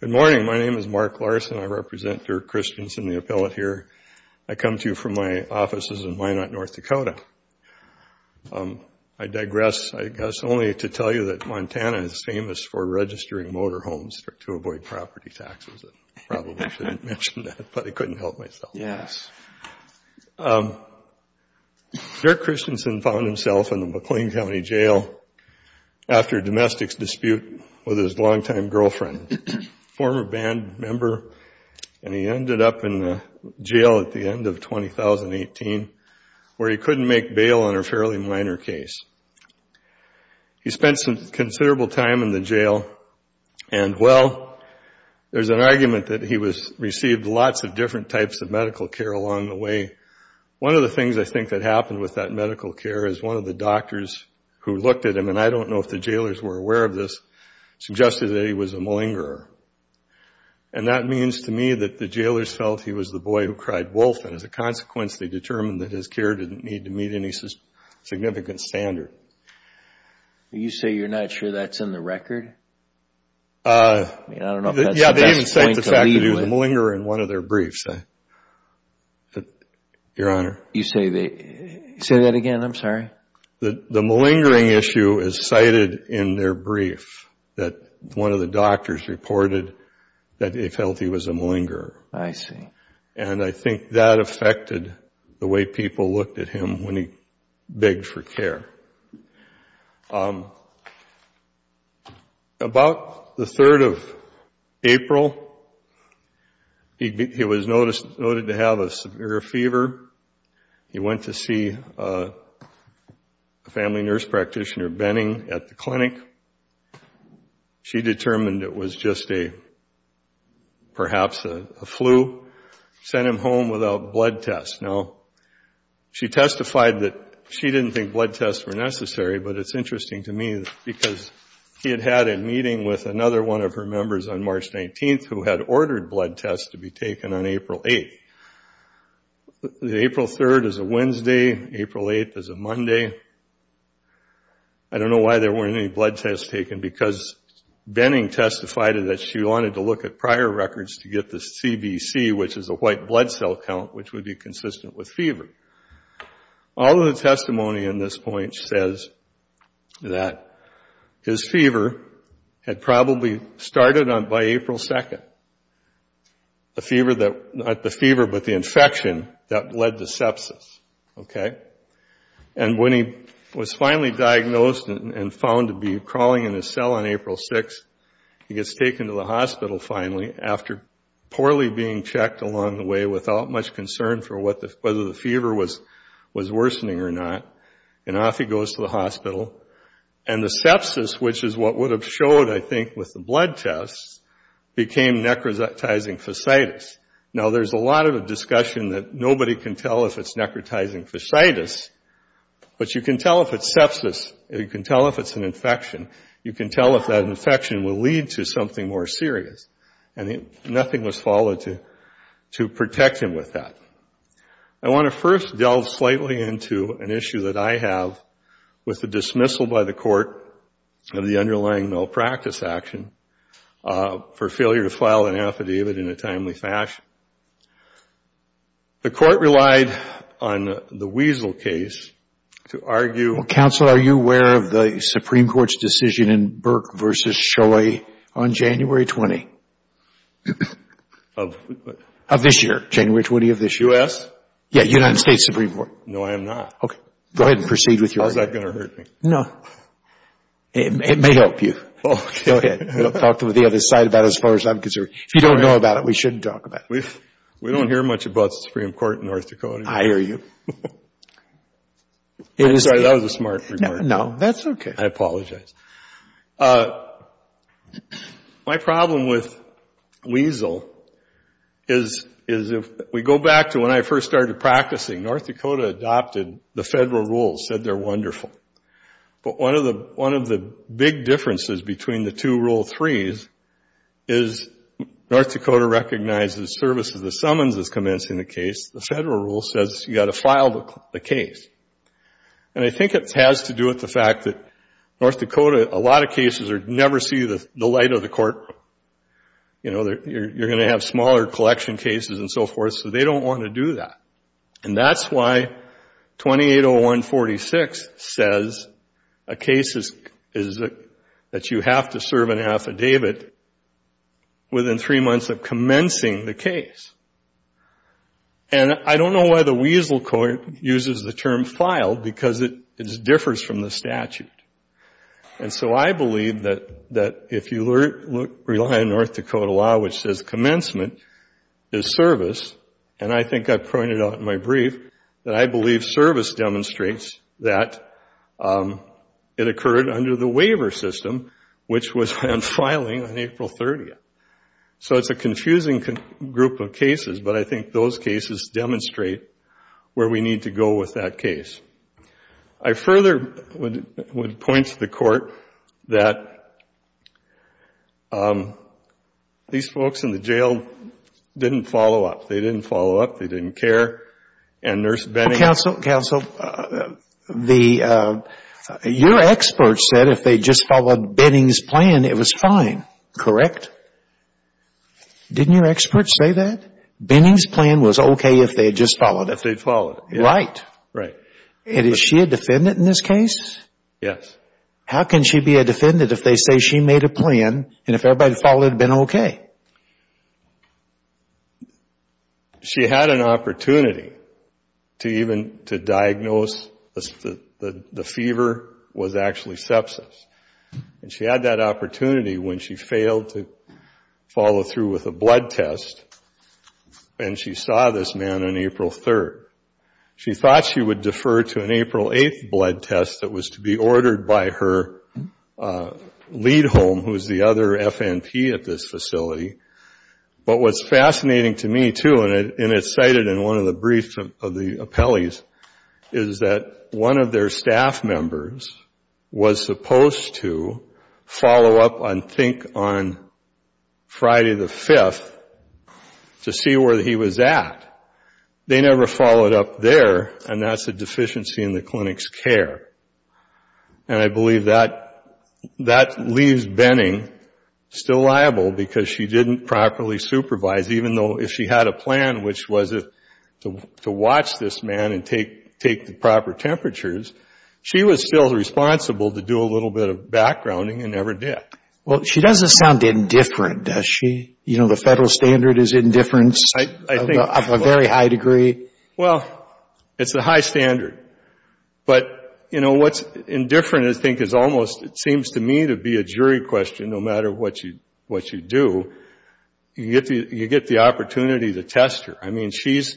Good morning. My name is Mark Larson. I represent Dirk Christianson, the appellate here. I come to you from my offices in Wyanotte, North Dakota. I digress, I guess, only to tell you that Montana is famous for registering motorhomes to avoid property taxes. I probably shouldn't mention that, but I couldn't help myself. Dirk Christianson found himself in the McLean County Jail after a domestic dispute with his longtime girlfriend, a former band member, and he ended up in jail at the end of 2018, where he couldn't make bail on a fairly minor case. He spent some considerable time in the jail, and well, there's an argument that he received lots of different types of medical care along the way. One of the things I think that happened with that medical care is one of the doctors who looked at him, and I don't know if the jailers were aware of this, suggested that he was a malingerer. And that means to me that the jailers felt he was the boy who cried wolf, and as a consequence, they determined that his care didn't need to meet any significant standard. You say you're not sure that's in the record? I mean, I don't know if that's the best point to leave with. Yeah, they even cite the fact that he was a malingerer in one of their briefs, Your Honor. You say that again? I'm sorry. The malingering issue is cited in their brief, that one of the doctors reported that he felt he was a malingerer. I see. And I think that affected the way people looked at him when he begged for care. About the 3rd of April, he was noted to have a severe fever. He went to see a family nurse practitioner, Benning, at the clinic. She determined it was just a, perhaps a flu. Sent him home without blood tests. Now, she testified that she didn't think blood tests were necessary, but it's interesting to me because he had had a meeting with another one of her members on March 19th who had ordered blood tests to be taken on April 8th. The April 3rd is a Wednesday, April 8th is a Monday. I don't know why there weren't any blood tests taken because Benning testified that she wanted to look at prior records to get the CBC, which is a white blood cell count, which would be consistent with fever. All of the testimony in this point says that his fever had probably started by April 2nd. The fever that, not the fever, but the infection that led to sepsis. Okay? And when he was finally diagnosed and found to be crawling in his cell on April 6th, he gets taken to the hospital finally after poorly being checked along the way without much concern for whether the fever was worsening or not. And off he goes to the hospital. And the sepsis, which is what would have showed, I think, with the blood tests, became necrotizing fasciitis. Now, there's a lot of discussion that nobody can tell if it's necrotizing fasciitis, but you can tell if it's sepsis. You can tell if it's an infection. You can tell if that infection will lead to something more serious. And nothing was followed to protect him with that. I want to first delve slightly into an issue that I have with the dismissal by the court of the underlying malpractice action for failure to file an affidavit in a timely fashion. The court relied on the Wiesel case to argue... Well, counsel, are you aware of the Supreme Court's decision in Burke v. Choi on January 20th of this year, January 20th of this year? U.S.? Yeah, United States Supreme Court. No, I am not. Okay. Go ahead and proceed with your argument. How's that going to hurt me? No. It may help you. Go ahead. We'll talk to the other side about it as far as I'm concerned. If you don't know about it, we shouldn't talk about it. We don't hear much about the Supreme Court in North Dakota. I hear you. I'm sorry. That was a smart remark. No, that's okay. I apologize. My problem with Wiesel is if we go back to when I first started practicing, North Dakota adopted the federal rules, said they're wonderful. But one of the big differences between the two Rule 3s is North Dakota recognizes services the summons as commencing the case. The federal rule says you got to file the case. And I think it has to do with the fact that North Dakota, a lot of cases never see the light of the courtroom. You know, you're going to have smaller collection cases and so forth, so they don't want to do that. And that's why 280146 says a case is that you have to serve an affidavit within three months of commencing the case. And I don't know why the Wiesel Court uses the term filed because it differs from the statute. And so I believe that if you rely on North Dakota law, which says commencement is service, and I think I pointed out in my brief that I believe service demonstrates that it occurred under the waiver system, which was on filing on April 30th. So it's a confusing group of cases, but I think those cases demonstrate where we need to go with that case. I further would point to the court that these folks in the jail didn't follow up. They didn't follow up. They didn't care. And Nurse Benning... Counsel, your expert said if they just followed Benning's plan, it was fine, correct? Didn't your expert say that? Benning's plan was okay if they had just followed it? If they had followed it, yes. Right. Right. And is she a defendant in this case? Yes. How can she be a defendant if they say she made a plan and if everybody followed it, it would have been okay? She had an opportunity to even diagnose the fever was actually sepsis, and she had that opportunity when she failed to follow through with a blood test, and she saw this man on April 3rd. She thought she would defer to an April 8th blood test that was to be ordered by her lead home, who is the other FNP at this facility. But what's fascinating to me too, and it's cited in one of the briefs of the appellees, is that one of their staff members was supposed to follow up on, think, on Friday the 5th to see where he was at. They never followed up there, and that's a deficiency in the clinic's care. And I believe that leaves Benning still liable because she didn't properly supervise, even though if she had a plan, which was to watch this man and take the proper temperatures, she was still responsible to do a little bit of backgrounding and never did. Well, she doesn't sound indifferent, does she? You know, the federal standard is indifference of a very high degree. Well, it's a high standard. But, you know, what's indifferent, I think, is almost, it seems to me, to be a jury question, no matter what you do. You get the opportunity to test her. I mean, she's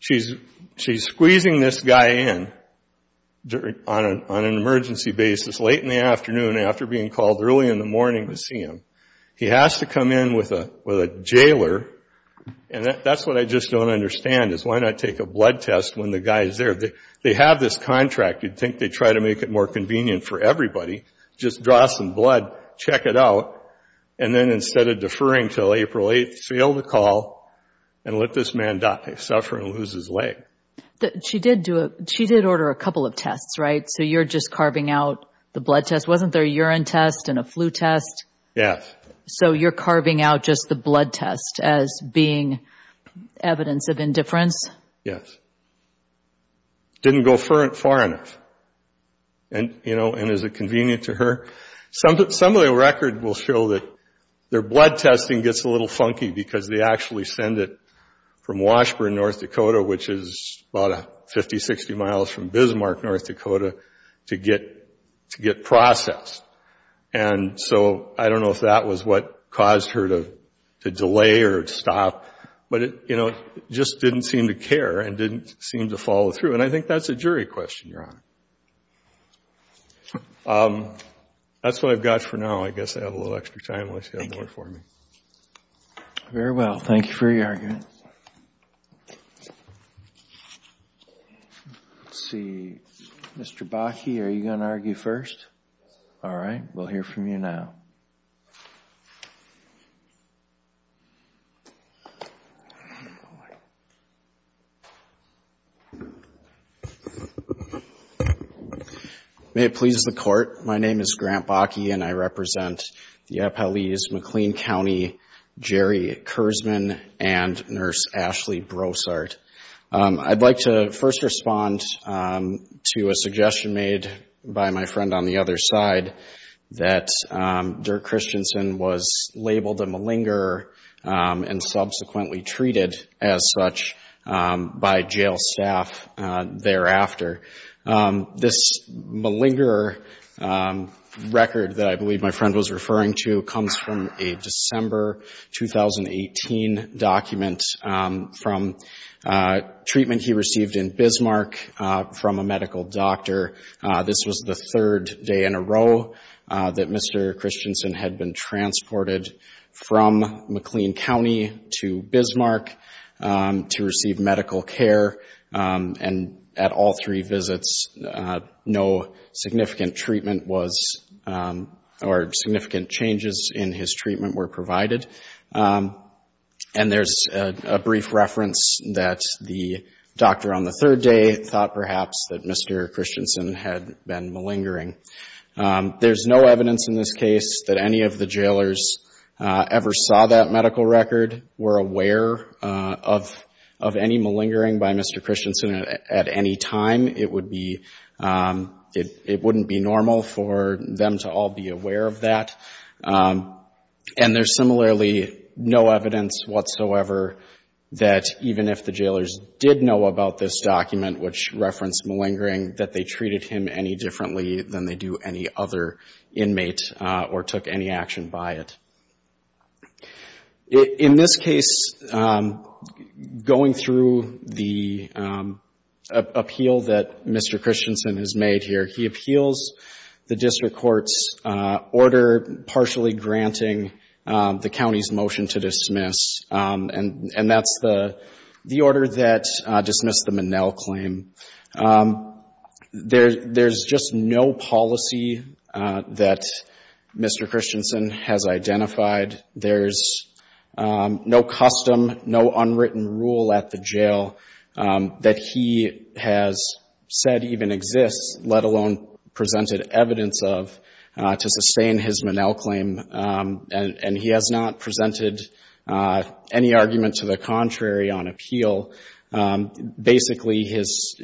squeezing this guy in on an emergency basis late in the afternoon after being called early in the morning to see him. He has to come in with a jailer. And that's what I just don't understand, is why not take a blood test when the guy is there? They have this contract. You'd think they'd try to make it more convenient for everybody. Just draw some blood, check it out, and then instead of deferring until April 8th, fail the call and let this man die, suffer and lose his leg. She did order a couple of tests, right? So you're just carving out the blood test. Wasn't there a urine test and a flu test? Yes. So you're carving out just the blood test as being evidence of indifference? Yes. Didn't go far enough. And, you know, and is it convenient to her? Some of the record will show that their blood testing gets a little funky because they actually send it from Washburn, North Dakota, which is about 50, 60 miles from Bismarck, North Dakota, to get processed. And so I don't know if that was what caused her to delay or stop, but it, you know, just didn't seem to care and didn't seem to follow through. And I think that's a jury question, Your Honor. That's what I've got for now. I guess I have a little extra time unless you have more for me. Very well. Thank you for your argument. Let's see. Mr. Bakke, are you going to argue first? All right. We'll hear from you now. May it please the Court. My name is Grant Bakke and I represent the Appalachian-McLean County Jerry Kurzman and Nurse Ashley Brossart. I'd like to first respond to a suggestion made by my friend on the other side that Dirk Christensen was labeled a malingerer and subsequently treated as such by jail staff thereafter. This malingerer record that I believe my friend was referring to comes from a December 2018 document from treatment he received in Bismarck from a medical doctor. This was the third day in a row that Mr. Christensen had been transported from McLean County to Bismarck to receive medical care. And at all three visits, no significant treatment was—or significant changes in his treatment were provided. And there's a brief reference that the doctor on the third day thought perhaps that Mr. Christensen had been malingering. There's no evidence in this case that any of the jailers ever saw that medical record, were aware of any malingering by Mr. Christensen at any time. It would be—it wouldn't be normal for them to all be aware of that. And there's similarly no evidence whatsoever that even if the jailers did know about this document which referenced malingering, that they treated him any differently than they do any other inmate or took any action by it. In this case, going through the appeal that Mr. Christensen has made here, he appeals the district court's order partially granting the county's motion to dismiss. And that's the order that dismissed the Minnell claim. There's just no policy that Mr. Christensen has identified. There's no custom, no unwritten rule at the jail that he has said even exists, let alone presented evidence of, to sustain his Minnell claim. And he has not presented any argument to the contrary on appeal. Basically, his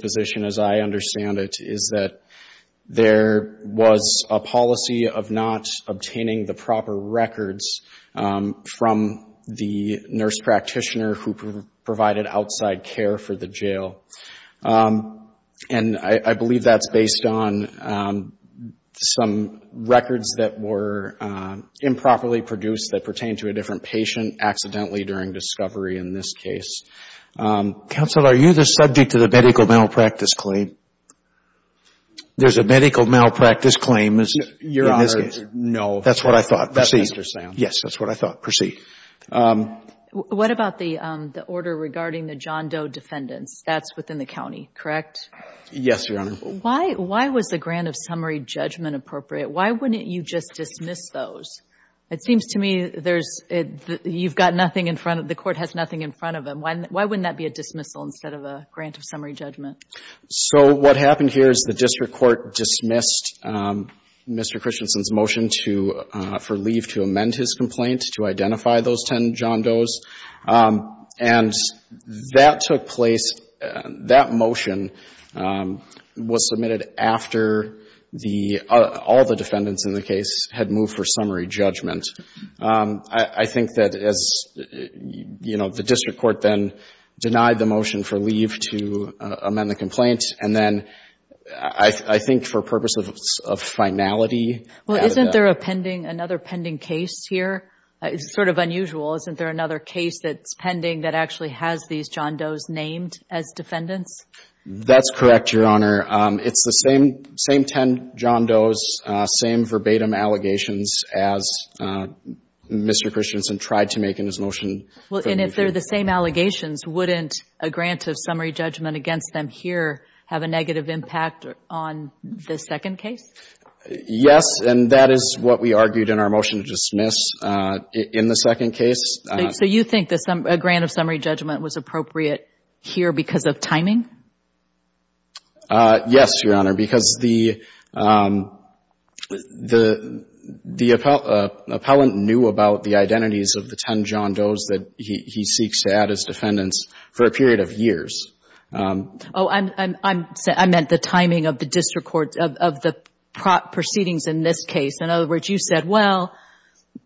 position as I understand it is that there was a policy of not obtaining the proper records from the nurse practitioner who provided outside care for the jail. And I believe that's based on some records that were improperly produced that pertain to a different patient accidentally during discovery in this case. Counsel, are you the subject of the medical malpractice claim? There's a medical malpractice claim in this case? Your Honor, no. That's what I thought. Proceed. That's what I was just saying. Yes. That's what I thought. Proceed. What about the order regarding the John Doe defendants? That's within the county, correct? Yes, Your Honor. Why was the grant of summary judgment appropriate? Why wouldn't you just dismiss those? It seems to me there's you've got nothing in front of the court has nothing in front of him. Why wouldn't that be a dismissal instead of a grant of summary judgment? So what happened here is the district court dismissed Mr. Christensen's motion for leave to amend his complaint to identify those 10 John Does. And that took place, that motion was submitted after all the defendants in the case had moved for summary judgment. I think that as the district court then denied the motion for leave to amend the complaint and then I think for purposes of finality. Well, isn't there a pending, another pending case here? It's sort of unusual. Isn't there another case that's pending that actually has these John Does named as defendants? That's correct, Your Honor. It's the same 10 John Does, same verbatim allegations as Mr. Christensen tried to make in his motion. Well, and if they're the same allegations, wouldn't a grant of summary judgment against them here have a negative impact on the second case? Yes, and that is what we argued in our motion to dismiss in the second case. So you think a grant of summary judgment was appropriate here because of timing? Yes, Your Honor, because the appellant knew about the identities of the 10 John Does that he seeks to add as defendants for a period of years. Oh, I meant the timing of the district court, of the proceedings in this case. In other words, you said, well,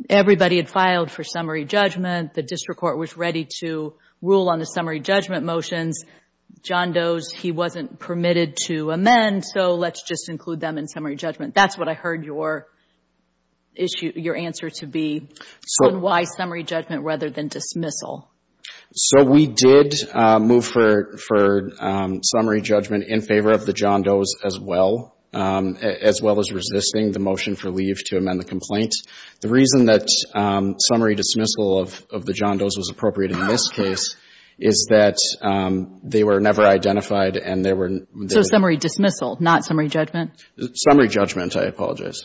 everybody had filed for summary judgment, the district court was ready to rule on the summary judgment motions. John Does, he wasn't permitted to amend, so let's just include them in summary judgment. That's what I heard your answer to be, and why summary judgment rather than dismissal? So we did move for summary judgment in favor of the John Does as well, as well as resisting the motion for leave to amend the complaint. The reason that summary dismissal of the John Does was appropriate in this case is that they were never identified and they were... So summary dismissal, not summary judgment? Summary judgment, I apologize.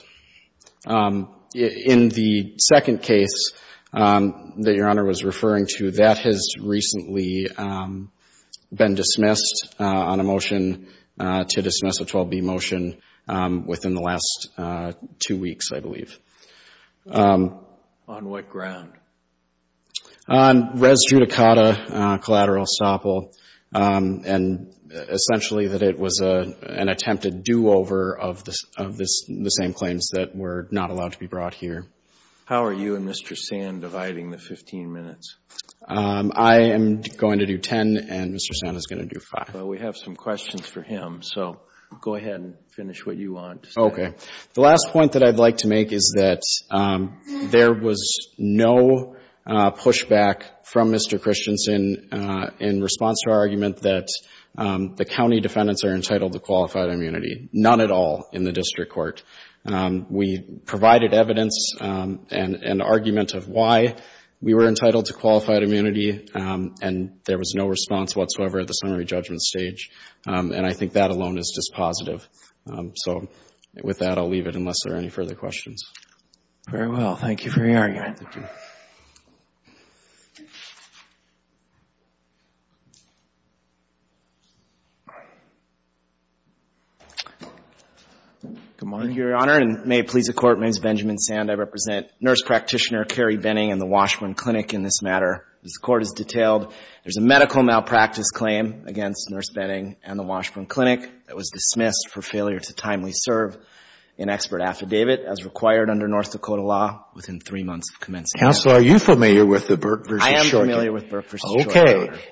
In the second case that Your Honor was referring to, that has recently been dismissed on a motion to dismiss a 12B motion within the last two weeks, I believe. On what ground? Res judicata collateral estoppel, and essentially that it was an attempted do-over of the same claims that were not allowed to be brought here. How are you and Mr. Sand dividing the 15 minutes? I am going to do 10 and Mr. Sand is going to do 5. We have some questions for him, so go ahead and finish what you want to say. The last point that I'd like to make is that there was no pushback from Mr. Christensen in response to our argument that the county defendants are entitled to qualified immunity. None at all in the district court. We provided evidence and argument of why we were entitled to qualified immunity and there was no response whatsoever at the summary judgment stage, and I think that alone is just positive. So with that, I'll leave it unless there are any further questions. Very well. Thank you for your argument. Thank you. Good morning, Your Honor, and may it please the Court, my name is Benjamin Sand. I represent Nurse Practitioner Carrie Benning in the Washburn Clinic in this matter. As the Court has detailed, there's a medical malpractice claim against Nurse Benning and the Washburn Clinic that was dismissed for failure to timely serve an expert affidavit as required under North Dakota law within three months of commencement. Counsel, are you familiar with the Burke v. Shorter? I am familiar with Burke v. Shorter.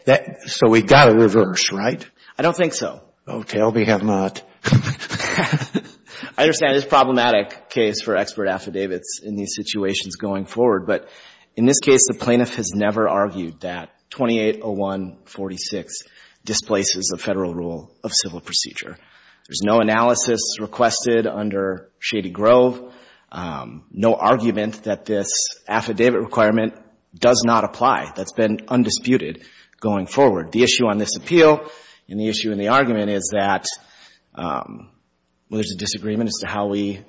Okay. So we've got to reverse, right? I don't think so. Oh, tell me have not. I understand it's a problematic case for expert affidavits in these situations going forward, but in this case, the plaintiff has never argued that 2801.46 displaces the Federal Rule of Civil Procedure. There's no analysis requested under Shady Grove, no argument that this affidavit requirement does not apply. That's been undisputed going forward. The issue on this appeal and the issue in the argument is that there's a disagreement as to how we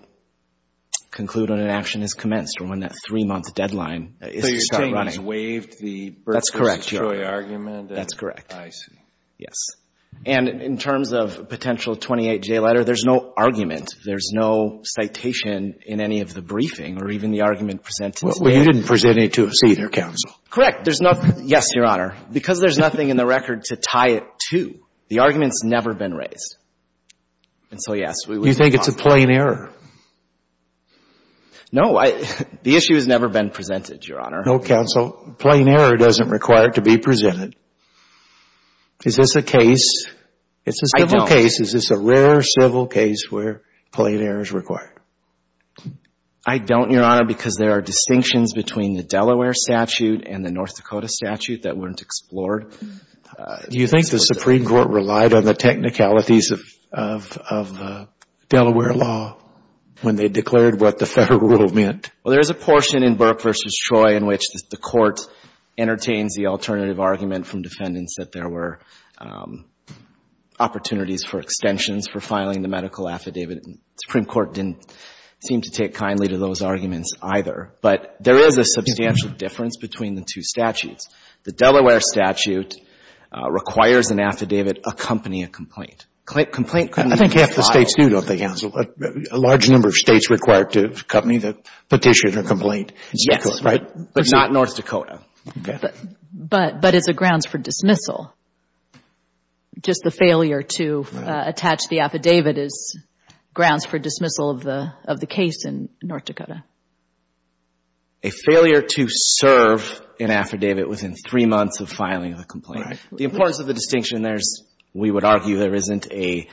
conclude when an action is commenced or when that three-month deadline is to start running. So you're saying he's waived the Burke v. Troy argument? That's correct. I see. Yes. And in terms of a potential 28-day letter, there's no argument, there's no citation in any of the briefing or even the argument presented today. Well, you didn't present it to us either, Counsel. Correct. There's nothing — yes, Your Honor. Because there's nothing in the record to tie it to, the argument's never been raised. And so, yes, we would move on. Do you think it's a plain error? No. The issue has never been presented, Your Honor. No, Counsel. A plain error doesn't require it to be presented. Is this a case? It's a civil case. Is this a rare civil case where plain error is required? I don't, Your Honor, because there are distinctions between the Delaware statute and the North Dakota statute that weren't explored. Do you think the Supreme Court relied on the technicalities of the Delaware law when they declared what the federal rule meant? Well, there is a portion in Burke v. Troy in which the Court entertains the alternative argument from defendants that there were opportunities for extensions for filing the medical affidavit. And the Supreme Court didn't seem to take kindly to those arguments either. But there is a substantial difference between the two statutes. The Delaware statute requires an affidavit accompany a complaint. Complaint can be filed. I think half the states do, don't they, Counsel? A large number of states require it to accompany the petition or complaint. Yes. Right? But not North Dakota. Okay. But it's a grounds for dismissal. Just the failure to attach the affidavit is grounds for dismissal of the case in North Dakota. A failure to serve an affidavit within three months of filing the complaint. The importance of the distinction there is we would argue there isn't a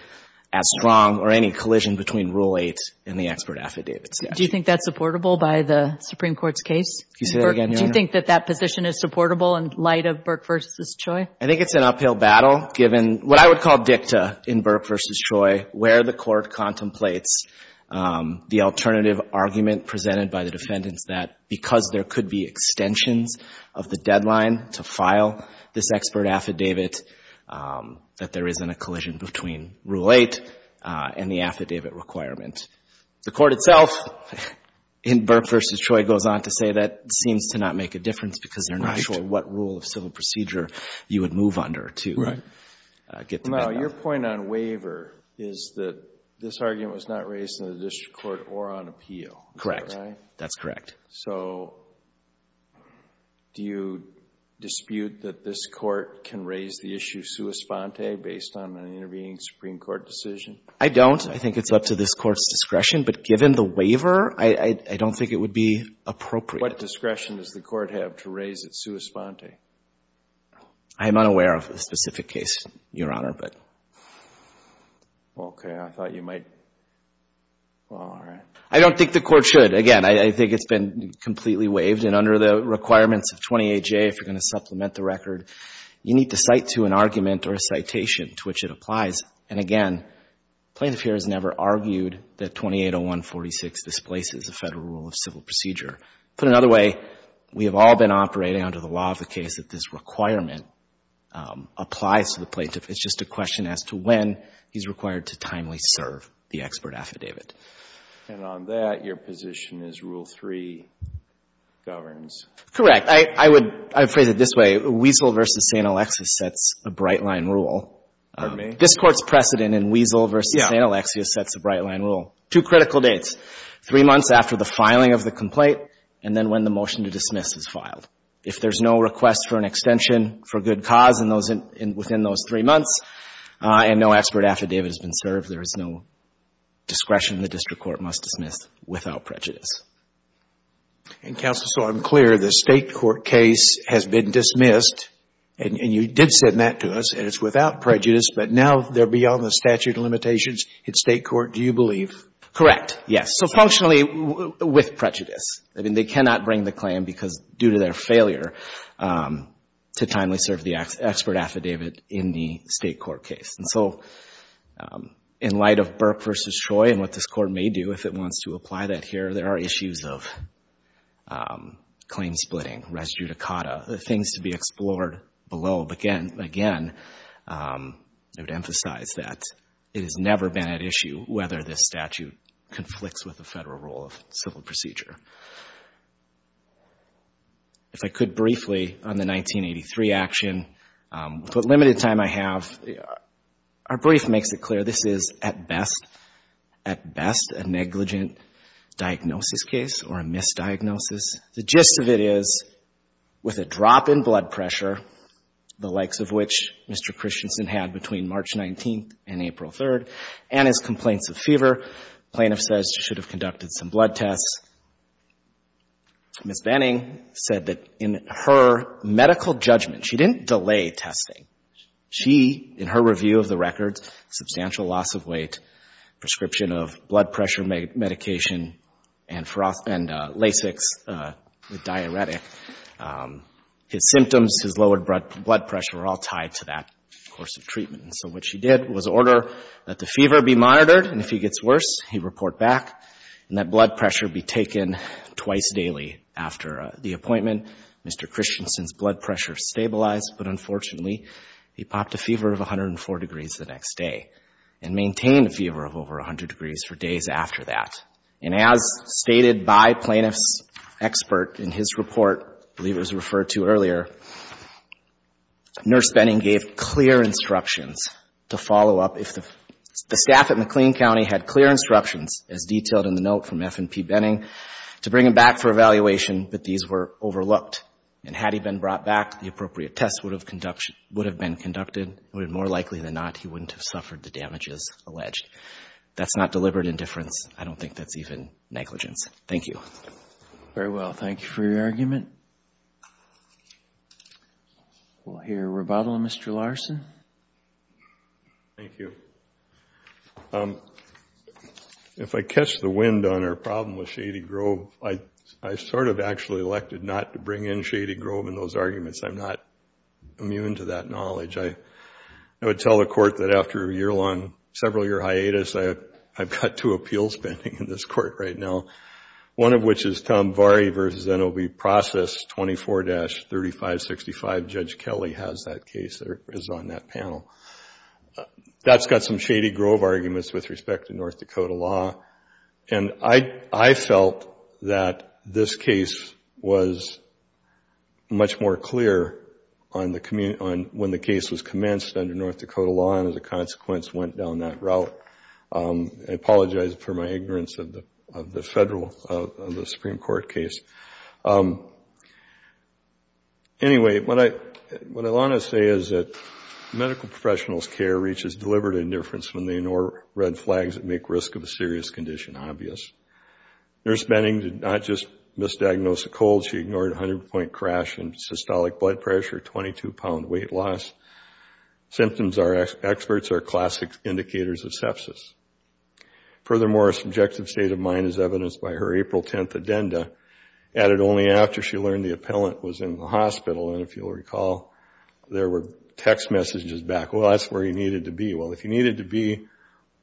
strong or any collision between Rule 8 and the expert affidavit statute. Do you think that's supportable by the Supreme Court's case? Can you say that again, Your Honor? Do you think that that position is supportable in light of Burke v. Troy? I think it's an uphill battle given what I would call dicta in Burke v. Troy where the court contemplates the alternative argument presented by the defendants that because there could be extensions of the deadline to file this expert affidavit that there isn't a collision between Rule 8 and the affidavit requirement. The court itself in Burke v. Troy goes on to say that seems to not make a difference because they're not sure what rule of civil procedure you would move under to get the Your point on waiver is that this argument was not raised in the district court or on appeal. Correct. That's correct. So do you dispute that this court can raise the issue sua sponte based on an intervening Supreme Court decision? I don't. I think it's up to this court's discretion, but given the waiver, I don't think it would be appropriate. What discretion does the court have to raise it sua sponte? I am unaware of a specific case, Your Honor, but. Okay. I thought you might. Well, all right. I don't think the court should. Again, I think it's been completely waived, and under the requirements of 28J, if you're going to supplement the record, you need to cite to an argument or a citation to which it applies. And again, plaintiff here has never argued that 2801.46 displaces a federal rule of civil procedure. Put another way, we have all been operating under the law of the case that this requirement applies to the plaintiff. It's just a question as to when he's required to timely serve the expert affidavit. And on that, your position is Rule 3 governs. Correct. I would phrase it this way. Wiesel v. St. Alexius sets a bright-line rule. Pardon me? This Court's precedent in Wiesel v. St. Alexius sets a bright-line rule. Yeah. Two critical dates. Three months after the filing of the complaint, and then when the motion to dismiss is filed. If there's no request for an extension for good cause within those three months, and no expert affidavit has been served, there is no discretion the district court must dismiss without prejudice. And, Counsel, so I'm clear. The State court case has been dismissed, and you did send that to us, and it's without prejudice, but now they're beyond the statute of limitations. At State court, do you believe? Correct, yes. So, functionally, with prejudice. I mean, they cannot bring the claim because, due to their failure to timely serve the expert affidavit in the State court case. And so, in light of Burke v. Choi and what this Court may do if it wants to apply that here, there are issues of claim splitting, res judicata, things to be explored below. Again, I would emphasize that it has never been at issue whether this statute conflicts with the federal rule of civil procedure. If I could briefly, on the 1983 action, with what limited time I have, our brief makes it clear this is, at best, a negligent diagnosis case or a misdiagnosis. The gist of it is, with a drop in blood pressure, the likes of which Mr. Christensen had between March 19th and April 3rd, and his complaints of fever, the plaintiff says she should have conducted some blood tests. Ms. Banning said that in her medical judgment, she didn't delay testing. She, in her review of the records, substantial loss of weight, prescription of blood pressure medication, and Lasix with diuretic. His symptoms, his lowered blood pressure, were all tied to that course of treatment. And so, what she did was order that the fever be monitored, and if he gets worse, he report back, and that blood pressure be taken twice daily after the appointment. Mr. Christensen's blood pressure stabilized, but unfortunately, he popped a fever of 104 degrees the next day, and maintained a fever of over 100 degrees for days after that. And as stated by plaintiff's expert in his report, I believe it was referred to earlier, Nurse Benning gave clear instructions to follow up. The staff at McLean County had clear instructions, as detailed in the note from F&P Benning, to bring him back for evaluation, but these were overlooked. And had he been brought back, the appropriate test would have been conducted. More likely than not, he wouldn't have suffered the damages alleged. That's not deliberate indifference. I don't think that's even negligence. Thank you. Very well. Thank you for your argument. We'll hear rebuttal, Mr. Larson. Thank you. If I catch the wind on our problem with Shady Grove, I sort of actually elected not to bring in Shady Grove in those arguments. I'm not immune to that knowledge. I would tell the court that after a year-long, several-year hiatus, I've got two appeals pending in this court right now, one of which is Tom Varey v. NOB Process 24-3565. Judge Kelly has that case, or is on that panel. That's got some Shady Grove arguments with respect to North Dakota law, and I felt that this case was much more clear when the case was commenced under North Dakota law, and as a consequence, went down that route. I apologize for my ignorance of the federal, of the Supreme Court case. Anyway, what I want to say is that medical professionals' care reaches deliberate indifference when they ignore red flags that make risk of a serious condition obvious. Nurse Benning did not just misdiagnose a cold. She ignored a 100-point crash and systolic blood pressure, 22-pound weight loss. Symptoms our experts are classic indicators of sepsis. Furthermore, a subjective state of mind is evidenced by her April 10th addenda, added only after she learned the appellant was in the hospital, and if you'll recall, there were text messages back, well, that's where he needed to be. Well, if he needed to be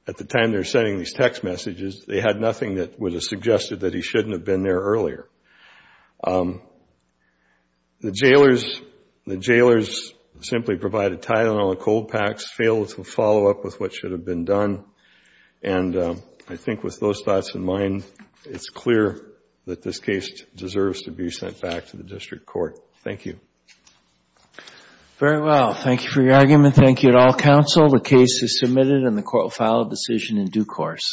at the time they were sending these text messages, they had nothing that would have suggested that he shouldn't have been there earlier. The jailers simply provided Tylenol and cold packs, failed to follow up with what should have been done, and I think with those thoughts in mind, it's clear that this case deserves to be sent back to the district court. Thank you. Very well. Thank you for your argument. Thank you to all counsel. The case is submitted and the court will file a decision in due course.